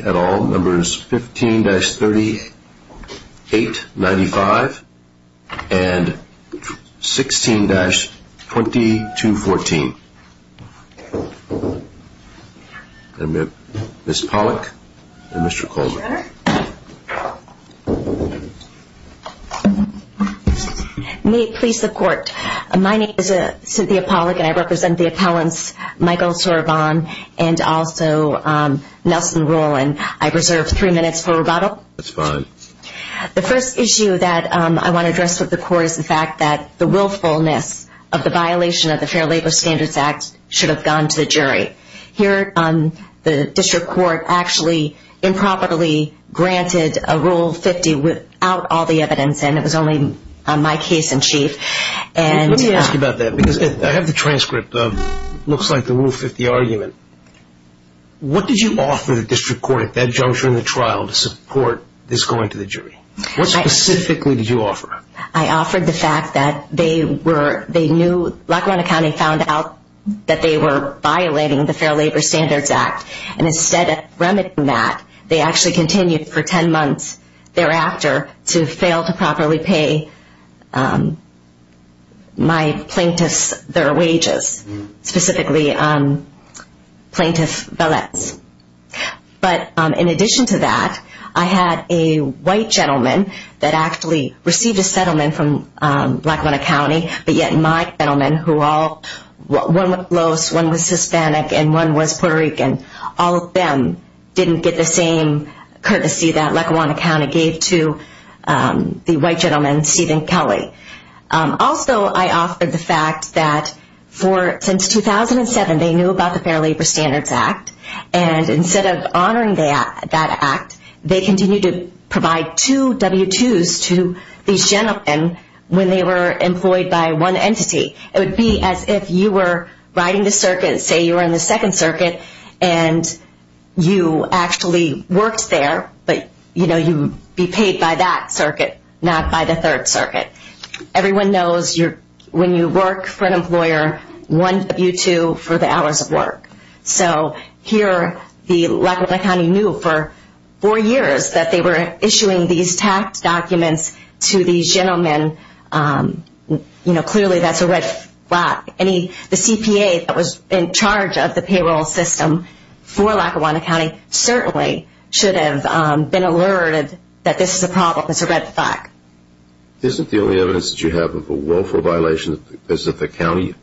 at all, numbers 15-3895 and 16-2214. Ms. Pollack and Mr. Colvin. May it please the court, my name is Cynthia Pollack and I represent the appellants Michael Souryavong and also Nelson Rowland. I reserve three minutes for rebuttal. That's fine. The first issue that I want to address with the court is the fact that the willfulness of the violation of the Fair Labor Standards Act should have gone to the jury. Here, the district court actually improperly granted a Rule 50 without all the evidence and it was only my case in chief. Let me ask you about that because I have the transcript of what looks like the Rule 50 argument. What did you offer the district court at that juncture in the trial to support this going to the jury? What specifically did you offer? I offered the fact that they knew Lackawana County found out that they were violating the Fair Labor Standards Act and instead of remedying that, they actually continued for 10 months thereafter to fail to properly pay my plaintiffs their wages, specifically Plaintiff Velez. But in addition to that, I had a white gentleman that actually received a settlement from Lackawana County but yet my gentlemen, one was Los, one was Hispanic, and one was Puerto Rican, all of them didn't get the same courtesy that Lackawana County gave to the white gentleman, Stephen Kelly. Also, I offered the fact that since 2007, they knew about the Fair Labor Standards Act and instead of honoring that act, they continued to provide two W-2s to these gentlemen when they were employed by one entity. It would be as if you were riding the circuit, say you were in the Second Circuit, and you actually worked there, but you'd be paid by that circuit, not by the Third Circuit. Everyone knows when you work for an employer, one W-2 for the hours of work. Here, Lackawanna County knew for four years that they were issuing these tax documents to these gentlemen. Clearly, that's a red flag. The CPA that was in charge of the payroll system for Lackawanna County certainly should have been alerted that this is a problem. It's a red flag. Isn't the only evidence that you have of a woeful violation is that the county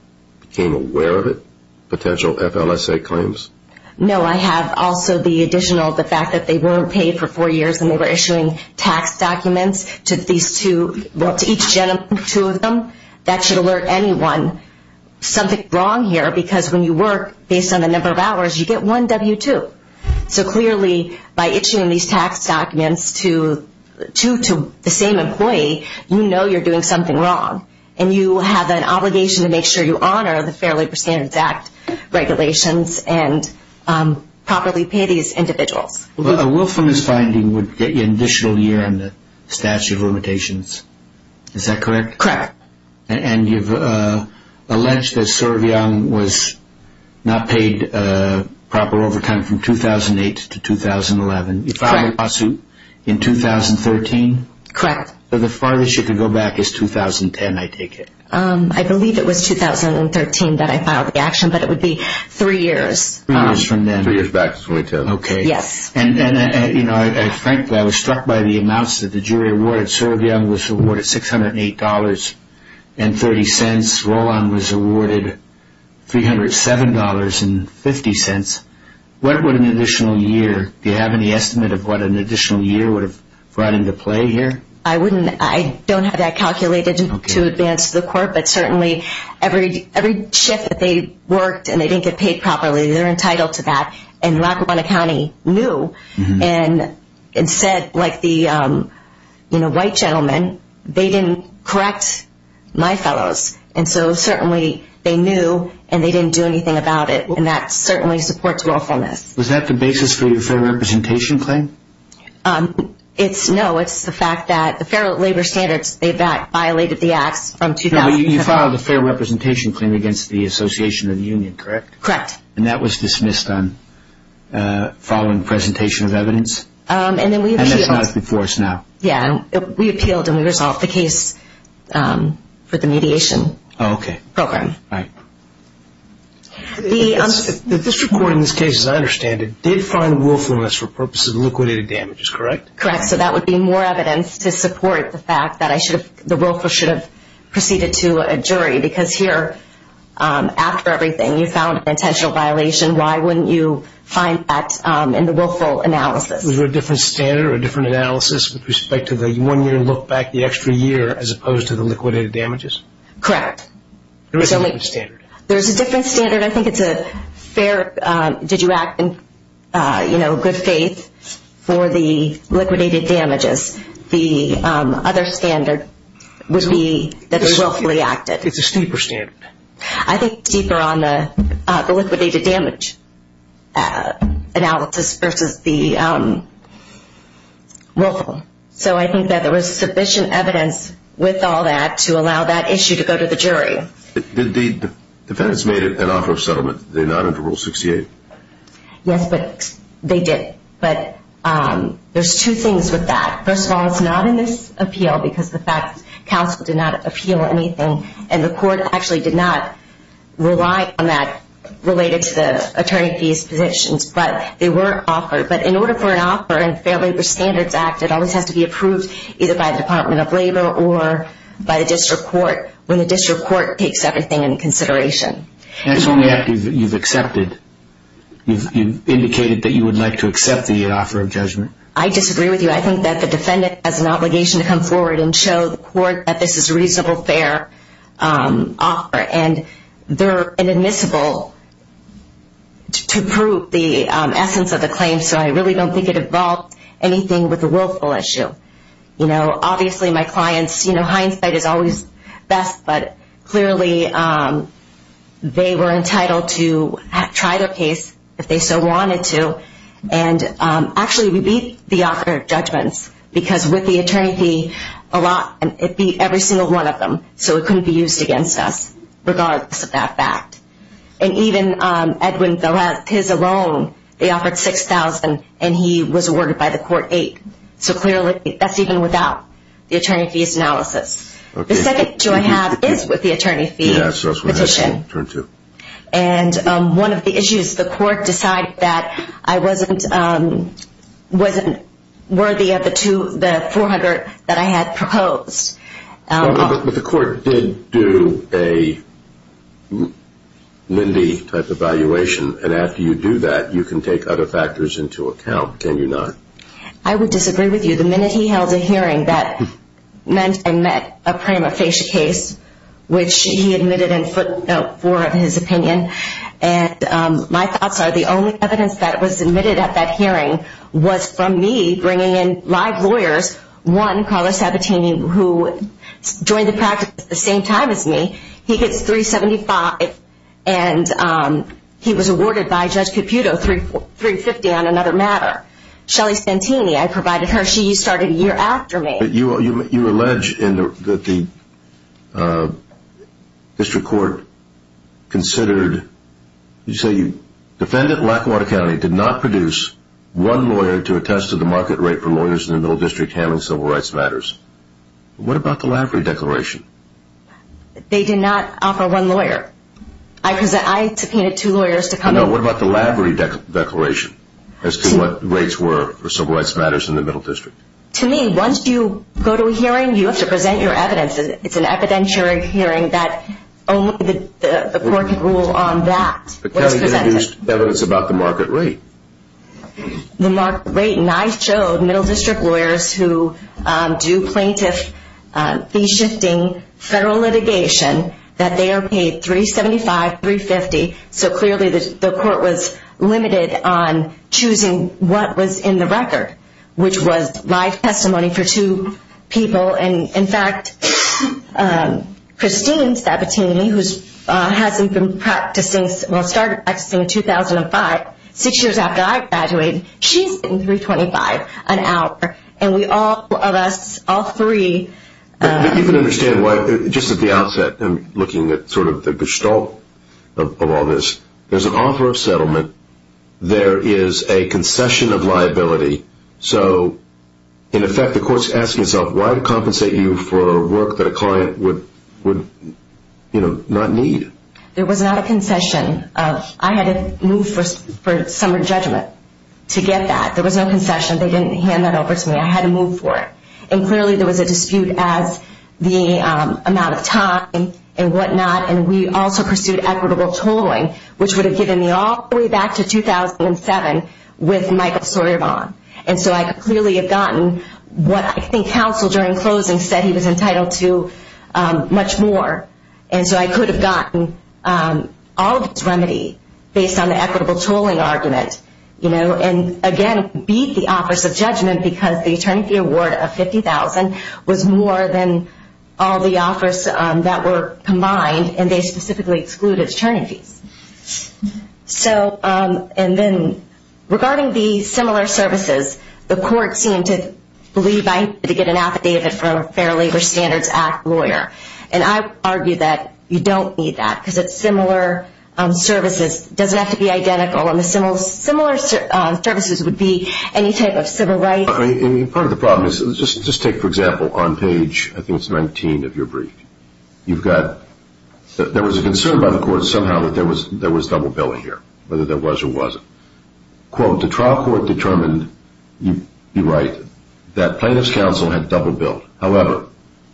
became aware of it? No, I have also the additional, the fact that they weren't paid for four years and they were issuing tax documents to each gentleman, two of them. That should alert anyone, something's wrong here, because when you work based on the number of hours, you get one W-2. So clearly, by issuing these tax documents to the same employee, you know you're doing something wrong, and you have an obligation to make sure you honor the Fair Labor Standards Act regulations and properly pay these individuals. Well, a willfulness finding would get you an additional year in the statute of limitations. Is that correct? Correct. And you've alleged that Servian was not paid proper overtime from 2008 to 2011. Correct. You filed a lawsuit in 2013. Correct. So the farthest you could go back is 2010, I take it. I believe it was 2013 that I filed the action, but it would be three years. Three years from then. Three years back to 2010. Okay. Yes. And frankly, I was struck by the amounts that the jury awarded. Servian was awarded $608.30. Roland was awarded $307.50. What would an additional year, do you have any estimate of what an additional year would have brought into play here? I don't have that calculated to advance the court, but certainly every shift that they worked and they didn't get paid properly, they're entitled to that. And Lackawanna County knew and said, like the white gentleman, they didn't correct my fellows. And so certainly they knew and they didn't do anything about it, and that certainly supports willfulness. Was that the basis for your fair representation claim? No, it's the fact that the fair labor standards, they violated the acts from 2010. You filed a fair representation claim against the Association of the Union, correct? Correct. And that was dismissed following presentation of evidence? And that's not before us now. Yes. We appealed and we resolved the case for the mediation program. Okay. All right. The district court in this case, as I understand it, did find willfulness for purposes of liquidated damages, correct? Correct. So that would be more evidence to support the fact that the willful should have proceeded to a jury, because here, after everything, you found an intentional violation. Why wouldn't you find that in the willful analysis? Was there a different standard or a different analysis with respect to the one year and look back the extra year as opposed to the liquidated damages? Correct. There is a different standard. There is a different standard. I think it's a fair, did you act in good faith for the liquidated damages. The other standard would be that they willfully acted. It's a steeper standard. I think steeper on the liquidated damage analysis versus the willful. So I think that there was sufficient evidence with all that to allow that issue to go to the jury. The defendants made an offer of settlement. Did they not under Rule 68? Yes, but they did. But there's two things with that. First of all, it's not in this appeal because the fact that counsel did not appeal anything and the court actually did not rely on that related to the attorney fees positions. But they were offered. But in order for an offer in Fair Labor Standards Act, it always has to be approved either by the Department of Labor or by the district court when the district court takes everything into consideration. That's only after you've accepted. You've indicated that you would like to accept the offer of judgment. I disagree with you. I think that the defendant has an obligation to come forward and show the court that this is a reasonable, fair offer. And they're inadmissible to prove the essence of the claim. So I really don't think it involved anything with the willful issue. Obviously, my clients, hindsight is always best, but clearly they were entitled to try their case if they so wanted to. And actually, we beat the offer of judgments because with the attorney fee, it beat every single one of them, so it couldn't be used against us regardless of that fact. And even Edwin, his alone, they offered $6,000, and he was awarded by the court $8,000. So clearly that's even without the attorney fees analysis. The second issue I have is with the attorney fee petition. And one of the issues, the court decided that I wasn't worthy of the $400 that I had proposed. But the court did do a Mindy type evaluation, and after you do that, you can take other factors into account, can you not? I would disagree with you. The minute he held a hearing, that meant I met a prima facie case, which he admitted in footnote 4 of his opinion. And my thoughts are the only evidence that was submitted at that hearing was from me bringing in live lawyers. One, Carlos Sabatini, who joined the practice at the same time as me. He gets $375,000, and he was awarded by Judge Caputo $350,000 on another matter. Shelly Santini, I provided her. She started a year after me. But you allege that the district court considered, you say defendant Lackawanna County did not produce one lawyer to attest to the market rate for lawyers in the middle district handling civil rights matters. What about the Lavery Declaration? They did not offer one lawyer. I subpoenaed two lawyers to come. What about the Lavery Declaration as to what rates were for civil rights matters in the middle district? To me, once you go to a hearing, you have to present your evidence. It's an evidentiary hearing that the court can rule on that. But Kelly introduced evidence about the market rate. The market rate, and I showed middle district lawyers who do plaintiff fee-shifting federal litigation that they are paid $375,000, $350,000. So clearly the court was limited on choosing what was in the record, which was live testimony for two people. And, in fact, Christine Sabatini, who started practicing in 2005, six years after I graduated, she's sitting $325,000 an hour. And we all of us, all three. You can understand why, just at the outset, looking at sort of the gestalt of all this. There's an offer of settlement. There is a concession of liability. So, in effect, the court's asking itself, why compensate you for work that a client would not need? There was not a concession. I had to move for summer judgment to get that. There was no concession. They didn't hand that over to me. I had to move for it. And clearly there was a dispute as the amount of time and whatnot, and we also pursued equitable tolling, which would have given me all the way back to 2007 with Michael Sorebonne. And so I could clearly have gotten what I think counsel, during closing, said he was entitled to much more. And so I could have gotten all of his remedy based on the equitable tolling argument. And, again, beat the office of judgment because the attorney fee award of $50,000 was more than all the offers that were combined, and they specifically excluded attorney fees. So, and then regarding the similar services, the court seemed to believe I needed to get an affidavit from a Fair Labor Standards Act lawyer. And I argue that you don't need that because it's similar services. It doesn't have to be identical. And the similar services would be any type of civil right. I mean, part of the problem is, just take, for example, on page, I think it's 19 of your brief, you've got, there was a concern by the court somehow that there was double billing here, whether there was or wasn't. Quote, the trial court determined, you're right, that plaintiff's counsel had double billed. However,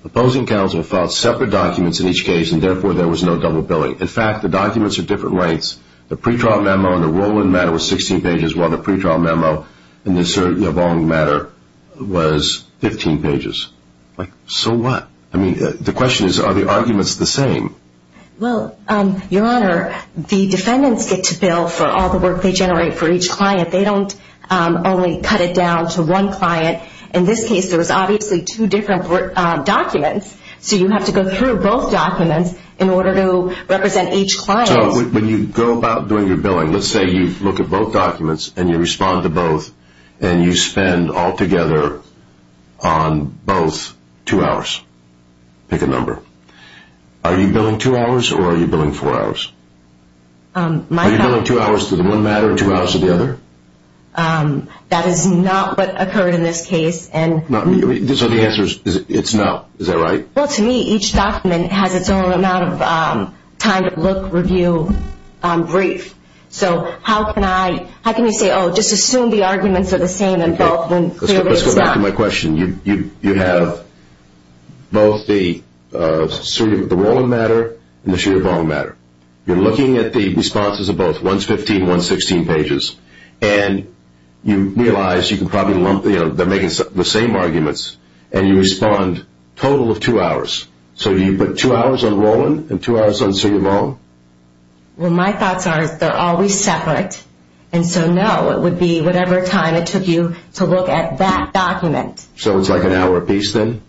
opposing counsel filed separate documents in each case, and therefore there was no double billing. In fact, the documents are different lengths. The pretrial memo and the Roland matter was 16 pages, while the pretrial memo and the Sir Yvonne matter was 15 pages. Like, so what? I mean, the question is, are the arguments the same? Well, Your Honor, the defendants get to bill for all the work they generate for each client. They don't only cut it down to one client. In this case, there was obviously two different documents, so you have to go through both documents in order to represent each client. So when you go about doing your billing, let's say you look at both documents and you respond to both, and you spend altogether on both two hours. Pick a number. Are you billing two hours or are you billing four hours? Are you billing two hours to the one matter and two hours to the other? That is not what occurred in this case. So the answer is it's not. Is that right? Well, to me, each document has its own amount of time to look, review, brief. So how can you say, oh, just assume the arguments are the same in both and clearly it's not? Let's go back to my question. You have both the Roland matter and the Sir Yvonne matter. You're looking at the responses of both, one's 15, one's 16 pages, and you realize they're making the same arguments, and you respond total of two hours. So do you put two hours on Roland and two hours on Sir Yvonne? Well, my thoughts are they're always separate, and so no, it would be whatever time it took you to look at that document. So it's like an hour apiece then?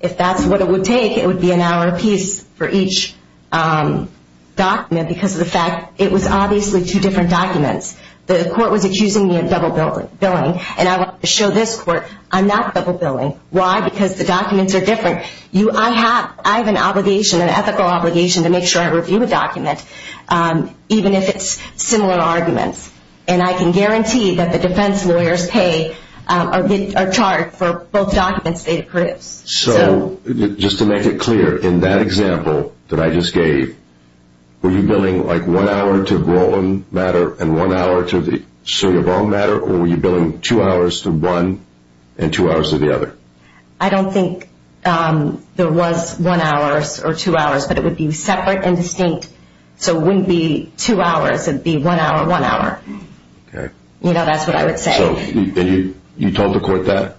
If that's what it would take, it would be an hour apiece for each document because of the fact it was obviously two different documents. The court was accusing me of double billing, and I want to show this court I'm not double billing. Why? Because the documents are different. I have an obligation, an ethical obligation, to make sure I review a document even if it's similar arguments, and I can guarantee that the defense lawyers pay or charge for both documents they've produced. So just to make it clear, in that example that I just gave, were you billing like one hour to Roland matter and one hour to the Sir Yvonne matter, or were you billing two hours to one and two hours to the other? I don't think there was one hour or two hours, but it would be separate and distinct. So it wouldn't be two hours. It would be one hour, one hour. Okay. You know, that's what I would say. So you told the court that?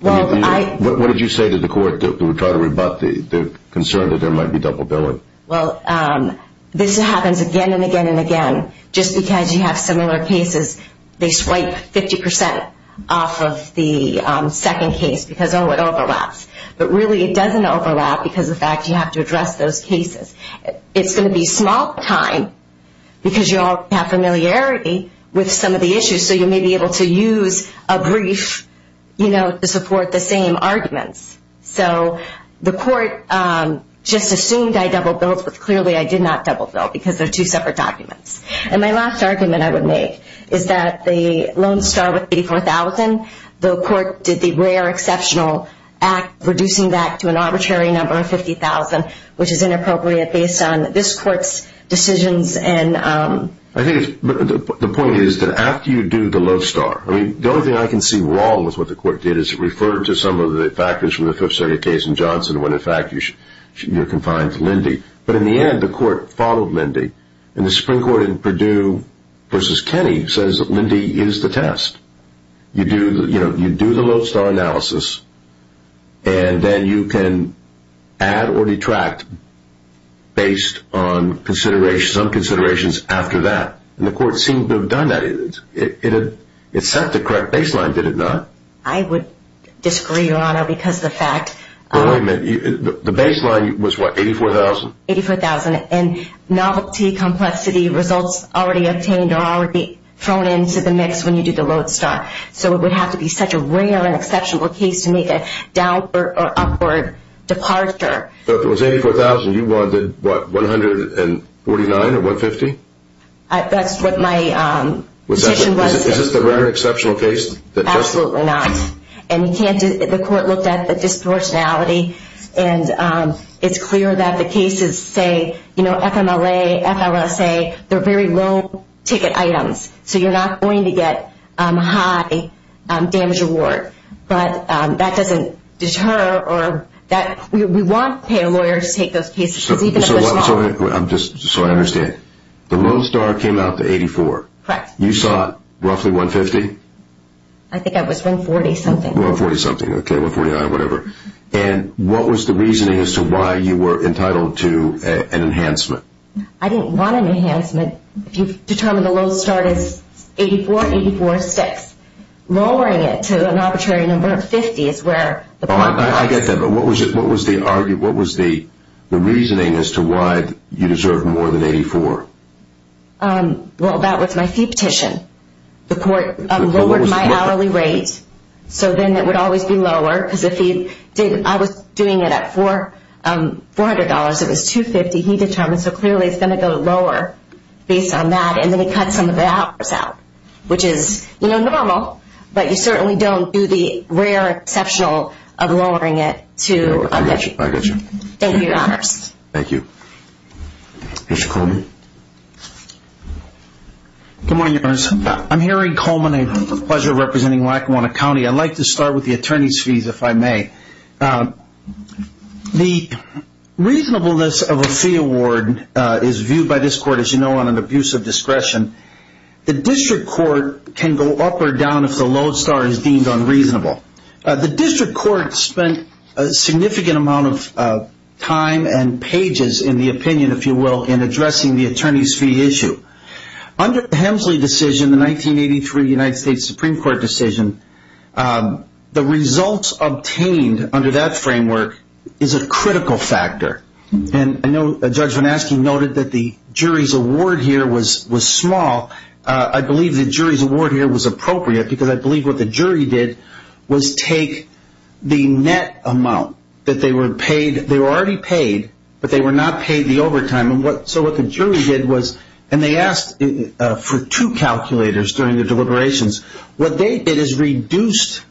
What did you say to the court that would try to rebut the concern that there might be double billing? Well, this happens again and again and again. Just because you have similar cases, they swipe 50% off of the second case because, oh, it overlaps. But really it doesn't overlap because of the fact you have to address those cases. It's going to be a small time because you all have familiarity with some of the issues, so you may be able to use a brief, you know, to support the same arguments. So the court just assumed I double billed, but clearly I did not double bill because they're two separate documents. And my last argument I would make is that the loan start with $84,000, the court did the rare exceptional act reducing that to an arbitrary number of $50,000, which is inappropriate based on this court's decisions. I think the point is that after you do the loan start, I mean, the only thing I can see wrong with what the court did is refer to some of the factors from the Fifth Circuit case in Johnson when, in fact, you're confined to Linde. But in the end, the court followed Linde. And the Supreme Court in Purdue v. Kennedy says that Linde is the test. You do the loan start analysis, and then you can add or detract based on considerations. And the court seemed to have done that. It set the correct baseline, did it not? I would disagree, Your Honor, because the fact— But wait a minute. The baseline was what, $84,000? $84,000. And novelty, complexity, results already obtained are already thrown into the mix when you do the loan start. So it would have to be such a rare and exceptional case to make a downward or upward departure. So if it was $84,000, you wanted, what, $149,000 or $150,000? That's what my position was. Is this the rare and exceptional case? Absolutely not. And you can't—the court looked at the disproportionality. And it's clear that the cases say, you know, FMLA, FLSA, they're very low-ticket items. So you're not going to get high damage reward. But that doesn't deter or that—we want payor lawyers to take those cases, even if they're small. So I'm just—so I understand. The loan start came out to $84,000. You sought roughly $150,000? I think I was $140,000-something. $140,000-something, okay, $149,000, whatever. And what was the reasoning as to why you were entitled to an enhancement? I didn't want an enhancement. If you determine the loan start is $84,000, $84,000 is $6,000. Lowering it to an arbitrary number of $50,000 is where the bond price— I get that. But what was the argument—what was the reasoning as to why you deserved more than $84,000? Well, that was my fee petition. The court lowered my hourly rate, so then it would always be lower. Because if he did—I was doing it at $400, it was $250,000. He determined, so clearly it's going to go lower based on that, and then he cut some of the hours out, which is, you know, normal. But you certainly don't do the rare exceptional of lowering it to— I got you. I got you. Thank you, Your Honors. Thank you. Mr. Coleman? Good morning, Your Honors. I'm Harry Coleman. It's a pleasure representing Lackawanna County. I'd like to start with the attorney's fees, if I may. The reasonableness of a fee award is viewed by this court, as you know, on an abuse of discretion. The district court can go up or down if the lodestar is deemed unreasonable. The district court spent a significant amount of time and pages, in the opinion, if you will, in addressing the attorney's fee issue. Under the Hemsley decision, the 1983 United States Supreme Court decision, the results obtained under that framework is a critical factor. And I know Judge Van Asken noted that the jury's award here was small. I believe the jury's award here was appropriate because I believe what the jury did was take the net amount that they were paid—they were already paid, but they were not paid the overtime. So what the jury did was—and they asked for two calculators during the deliberations. What they did is reduced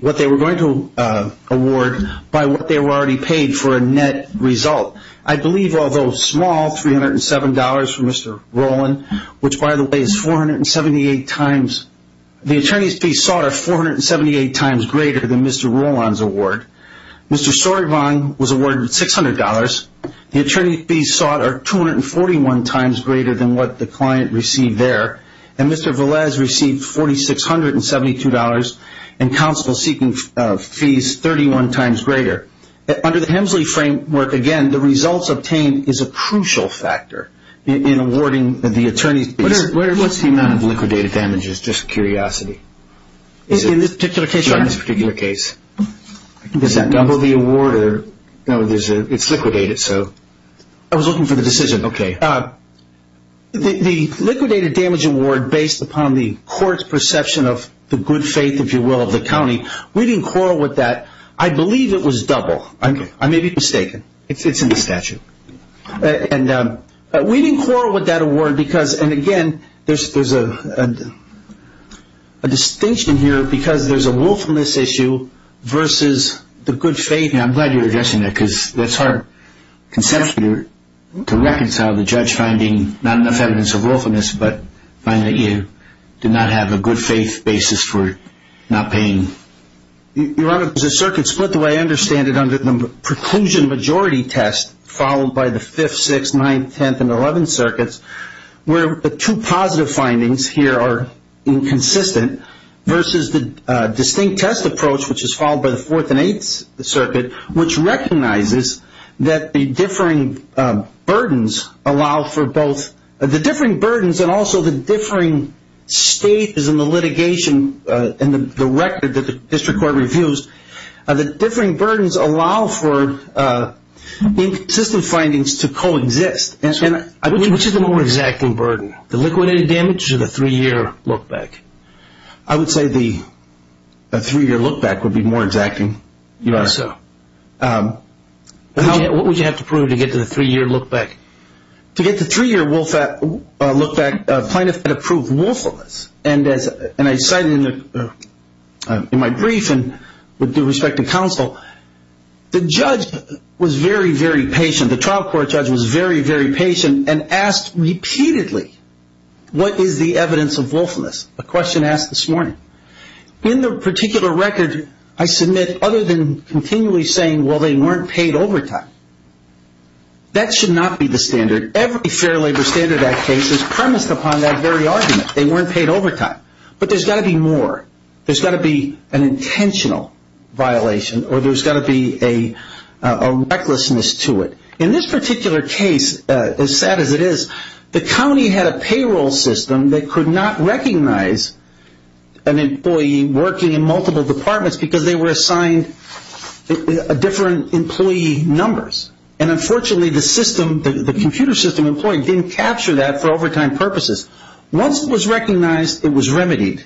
what they were going to award by what they were already paid for a net result. I believe, although small, $307 for Mr. Rowland, which, by the way, is 478 times— the attorney's fees sought are 478 times greater than Mr. Rowland's award. Mr. Storyvon was awarded $600. The attorney's fees sought are 241 times greater than what the client received there. And Mr. Velez received $4,672 and counsel seeking fees 31 times greater. Under the Hemsley framework, again, the results obtained is a crucial factor in awarding the attorney's fees. What's the amount of liquidated damages? Just a curiosity. In this particular case? In this particular case. Is that double the award? No, it's liquidated, so— I was looking for the decision. Okay. The liquidated damage award, based upon the court's perception of the good faith, if you will, of the county, we didn't quarrel with that. I believe it was double. Okay. I may be mistaken. It's in the statute. We didn't quarrel with that award because, and again, there's a distinction here because there's a willfulness issue versus the good faith. I'm glad you're addressing that because it's hard conceptually to reconcile the judge finding not enough evidence of willfulness but finding that you did not have a good faith basis for not paying. Your Honor, there's a circuit split the way I understand it under the preclusion majority test followed by the 5th, 6th, 9th, 10th, and 11th circuits where the two positive findings here are inconsistent versus the distinct test approach, which is followed by the 4th and 8th circuit, which recognizes that the differing burdens allow for both—the differing burdens and also the differing stages in the litigation and the record that the district court reviews, the differing burdens allow for inconsistent findings to coexist. Which is the more exacting burden, the liquidated damage or the three-year look back? I would say the three-year look back would be more exacting, Your Honor. Why so? What would you have to prove to get to the three-year look back? To get the three-year look back, plaintiff had approved willfulness. And I cited in my brief and with due respect to counsel, the judge was very, very patient. The trial court judge was very, very patient and asked repeatedly, what is the evidence of willfulness? A question asked this morning. In the particular record, I submit other than continually saying, well, they weren't paid overtime. That should not be the standard. Every Fair Labor Standard Act case is premised upon that very argument. They weren't paid overtime. But there's got to be more. There's got to be an intentional violation or there's got to be a recklessness to it. In this particular case, as sad as it is, the county had a payroll system that could not recognize an employee working in multiple departments because they were assigned different employee numbers. And unfortunately, the system, the computer system employee didn't capture that for overtime purposes. Once it was recognized, it was remedied.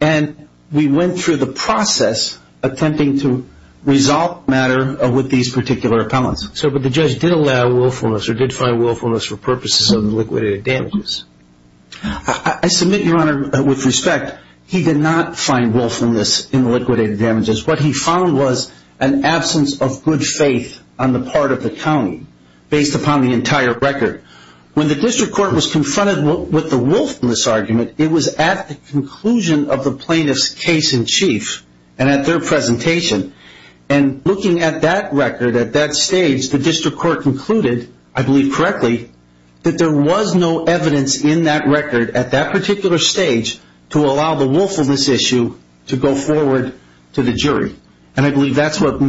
And we went through the process attempting to resolve the matter with these particular appellants. But the judge did allow willfulness or did find willfulness for purposes of liquidated damages. I submit, Your Honor, with respect, he did not find willfulness in liquidated damages. What he found was an absence of good faith on the part of the county based upon the entire record. When the district court was confronted with the willfulness argument, it was at the conclusion of the plaintiff's case in chief and at their presentation. And looking at that record at that stage, the district court concluded, I believe correctly, that there was no evidence in that record at that particular stage to allow the willfulness issue to go forward to the jury. And I believe that's what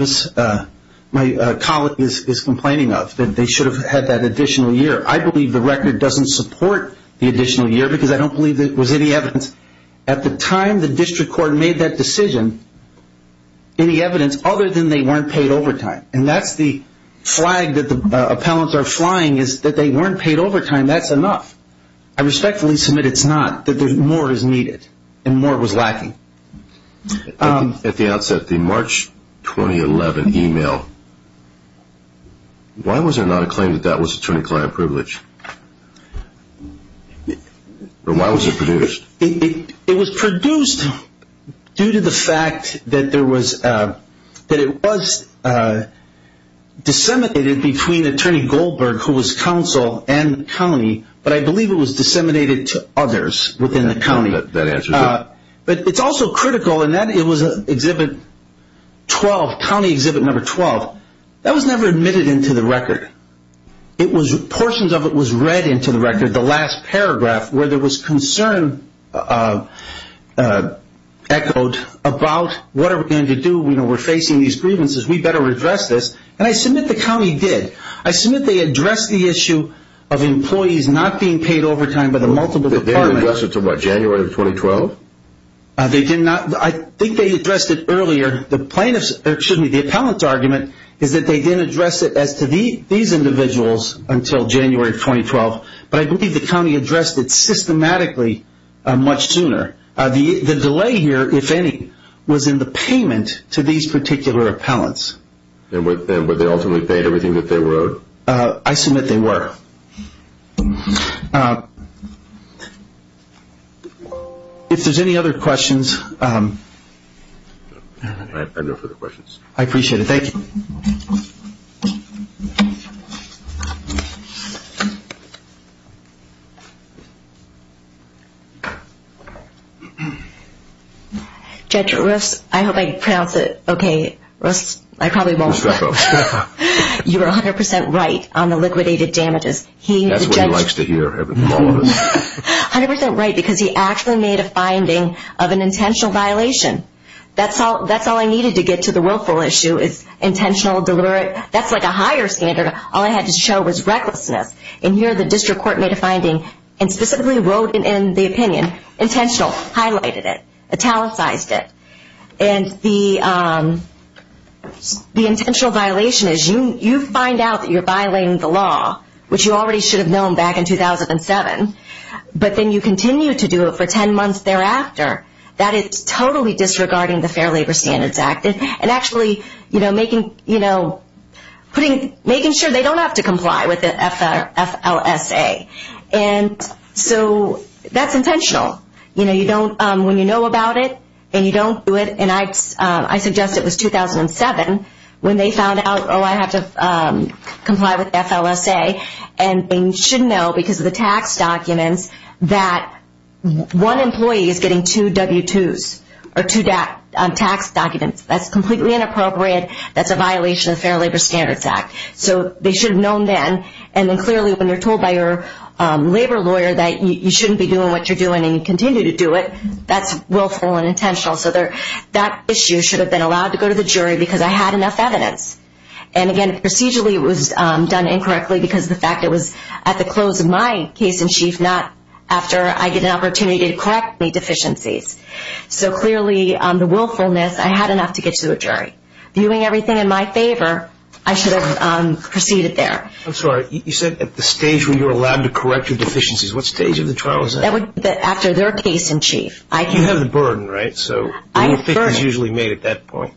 my colleague is complaining of, that they should have had that additional year. I believe the record doesn't support the additional year because I don't believe there was any evidence. At the time the district court made that decision, any evidence other than they weren't paid overtime. And that's the flag that the appellants are flying is that they weren't paid overtime. That's enough. I respectfully submit it's not, that more is needed and more was lacking. At the outset, the March 2011 email, why was there not a claim that that was attorney-client privilege? Why was it produced? It was produced due to the fact that it was disseminated between Attorney Goldberg, who was counsel, and the county. But I believe it was disseminated to others within the county. That answers it. But it's also critical in that it was Exhibit 12, County Exhibit 12. That was never admitted into the record. Portions of it was read into the record, the last paragraph, where there was concern echoed about what are we going to do? We're facing these grievances. We better address this. And I submit the county did. I submit they addressed the issue of employees not being paid overtime by the multiple departments. They didn't address it until what, January of 2012? They did not. I think they addressed it earlier. The plaintiffs, or excuse me, the appellant's argument is that they didn't address it as to these individuals until January of 2012. But I believe the county addressed it systematically much sooner. The delay here, if any, was in the payment to these particular appellants. And were they ultimately paid everything that they were owed? I submit they were. If there's any other questions, I appreciate it. Thank you. Judge, I hope I pronounced it okay. I probably won't. You're 100% right on the liquidated damages. That's what he likes to hear from all of us. 100% right, because he actually made a finding of an intentional violation. That's all I needed to get to the willful issue is intentional, deliberate. That's like a higher standard. All I had to show was recklessness. And here the district court made a finding and specifically wrote in the opinion, intentional, highlighted it, italicized it. And the intentional violation is you find out that you're violating the law, which you already should have known back in 2007, but then you continue to do it for 10 months thereafter, that is totally disregarding the Fair Labor Standards Act and actually making sure they don't have to comply with the FLSA. And so that's intentional. When you know about it and you don't do it, and I suggest it was 2007 when they found out, oh, I have to comply with FLSA, and they should know because of the tax documents that one employee is getting two W-2s or two tax documents. That's completely inappropriate. That's a violation of the Fair Labor Standards Act. So they should have known then. And then clearly when you're told by your labor lawyer that you shouldn't be doing what you're doing and you continue to do it, that's willful and intentional. So that issue should have been allowed to go to the jury because I had enough evidence. And, again, procedurally it was done incorrectly because of the fact it was at the close of my case in chief, not after I get an opportunity to correct any deficiencies. So clearly the willfulness, I had enough to get to a jury. Viewing everything in my favor, I should have proceeded there. I'm sorry. You said at the stage where you're allowed to correct your deficiencies. What stage of the trial is that? That would be after their case in chief. You have the burden, right? So the whole thing is usually made at that point.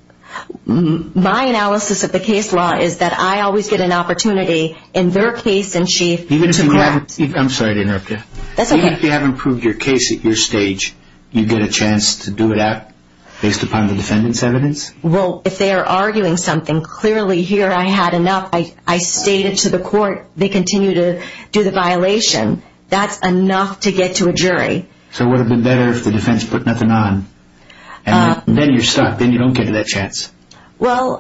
My analysis of the case law is that I always get an opportunity in their case in chief to correct. I'm sorry to interrupt you. That's okay. Even if you haven't proved your case at your stage, you get a chance to do it based upon the defendant's evidence? Well, if they are arguing something, clearly here I had enough. I stated to the court they continue to do the violation. That's enough to get to a jury. So it would have been better if the defense put nothing on. And then you're stuck. Then you don't get that chance. Well,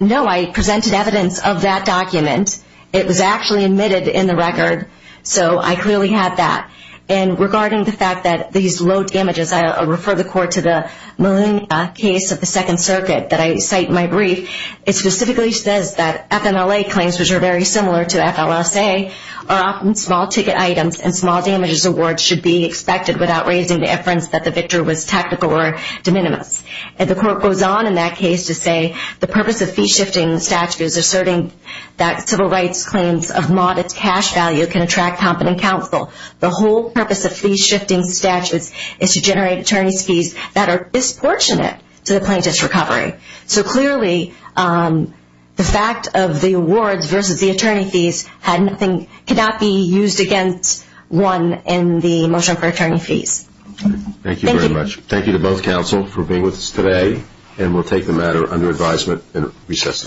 no. I presented evidence of that document. It was actually admitted in the record. So I clearly had that. And regarding the fact that these low damages, I refer the court to the Molina case of the Second Circuit that I cite in my brief. It specifically says that FMLA claims, which are very similar to FLSA, are often small ticket items and small damages awards should be expected without raising the inference that the victory was technical or de minimis. And the court goes on in that case to say the purpose of fee-shifting statute is asserting that civil rights claims of modest cash value can attract competent counsel. The whole purpose of fee-shifting statutes is to generate attorney's fees that are disproportionate to the plaintiff's recovery. So clearly the fact of the awards versus the attorney fees cannot be used against one in the motion for attorney fees. Thank you very much. Thank you. Thank you to both counsel for being with us today. And we'll take the matter under advisement and recess.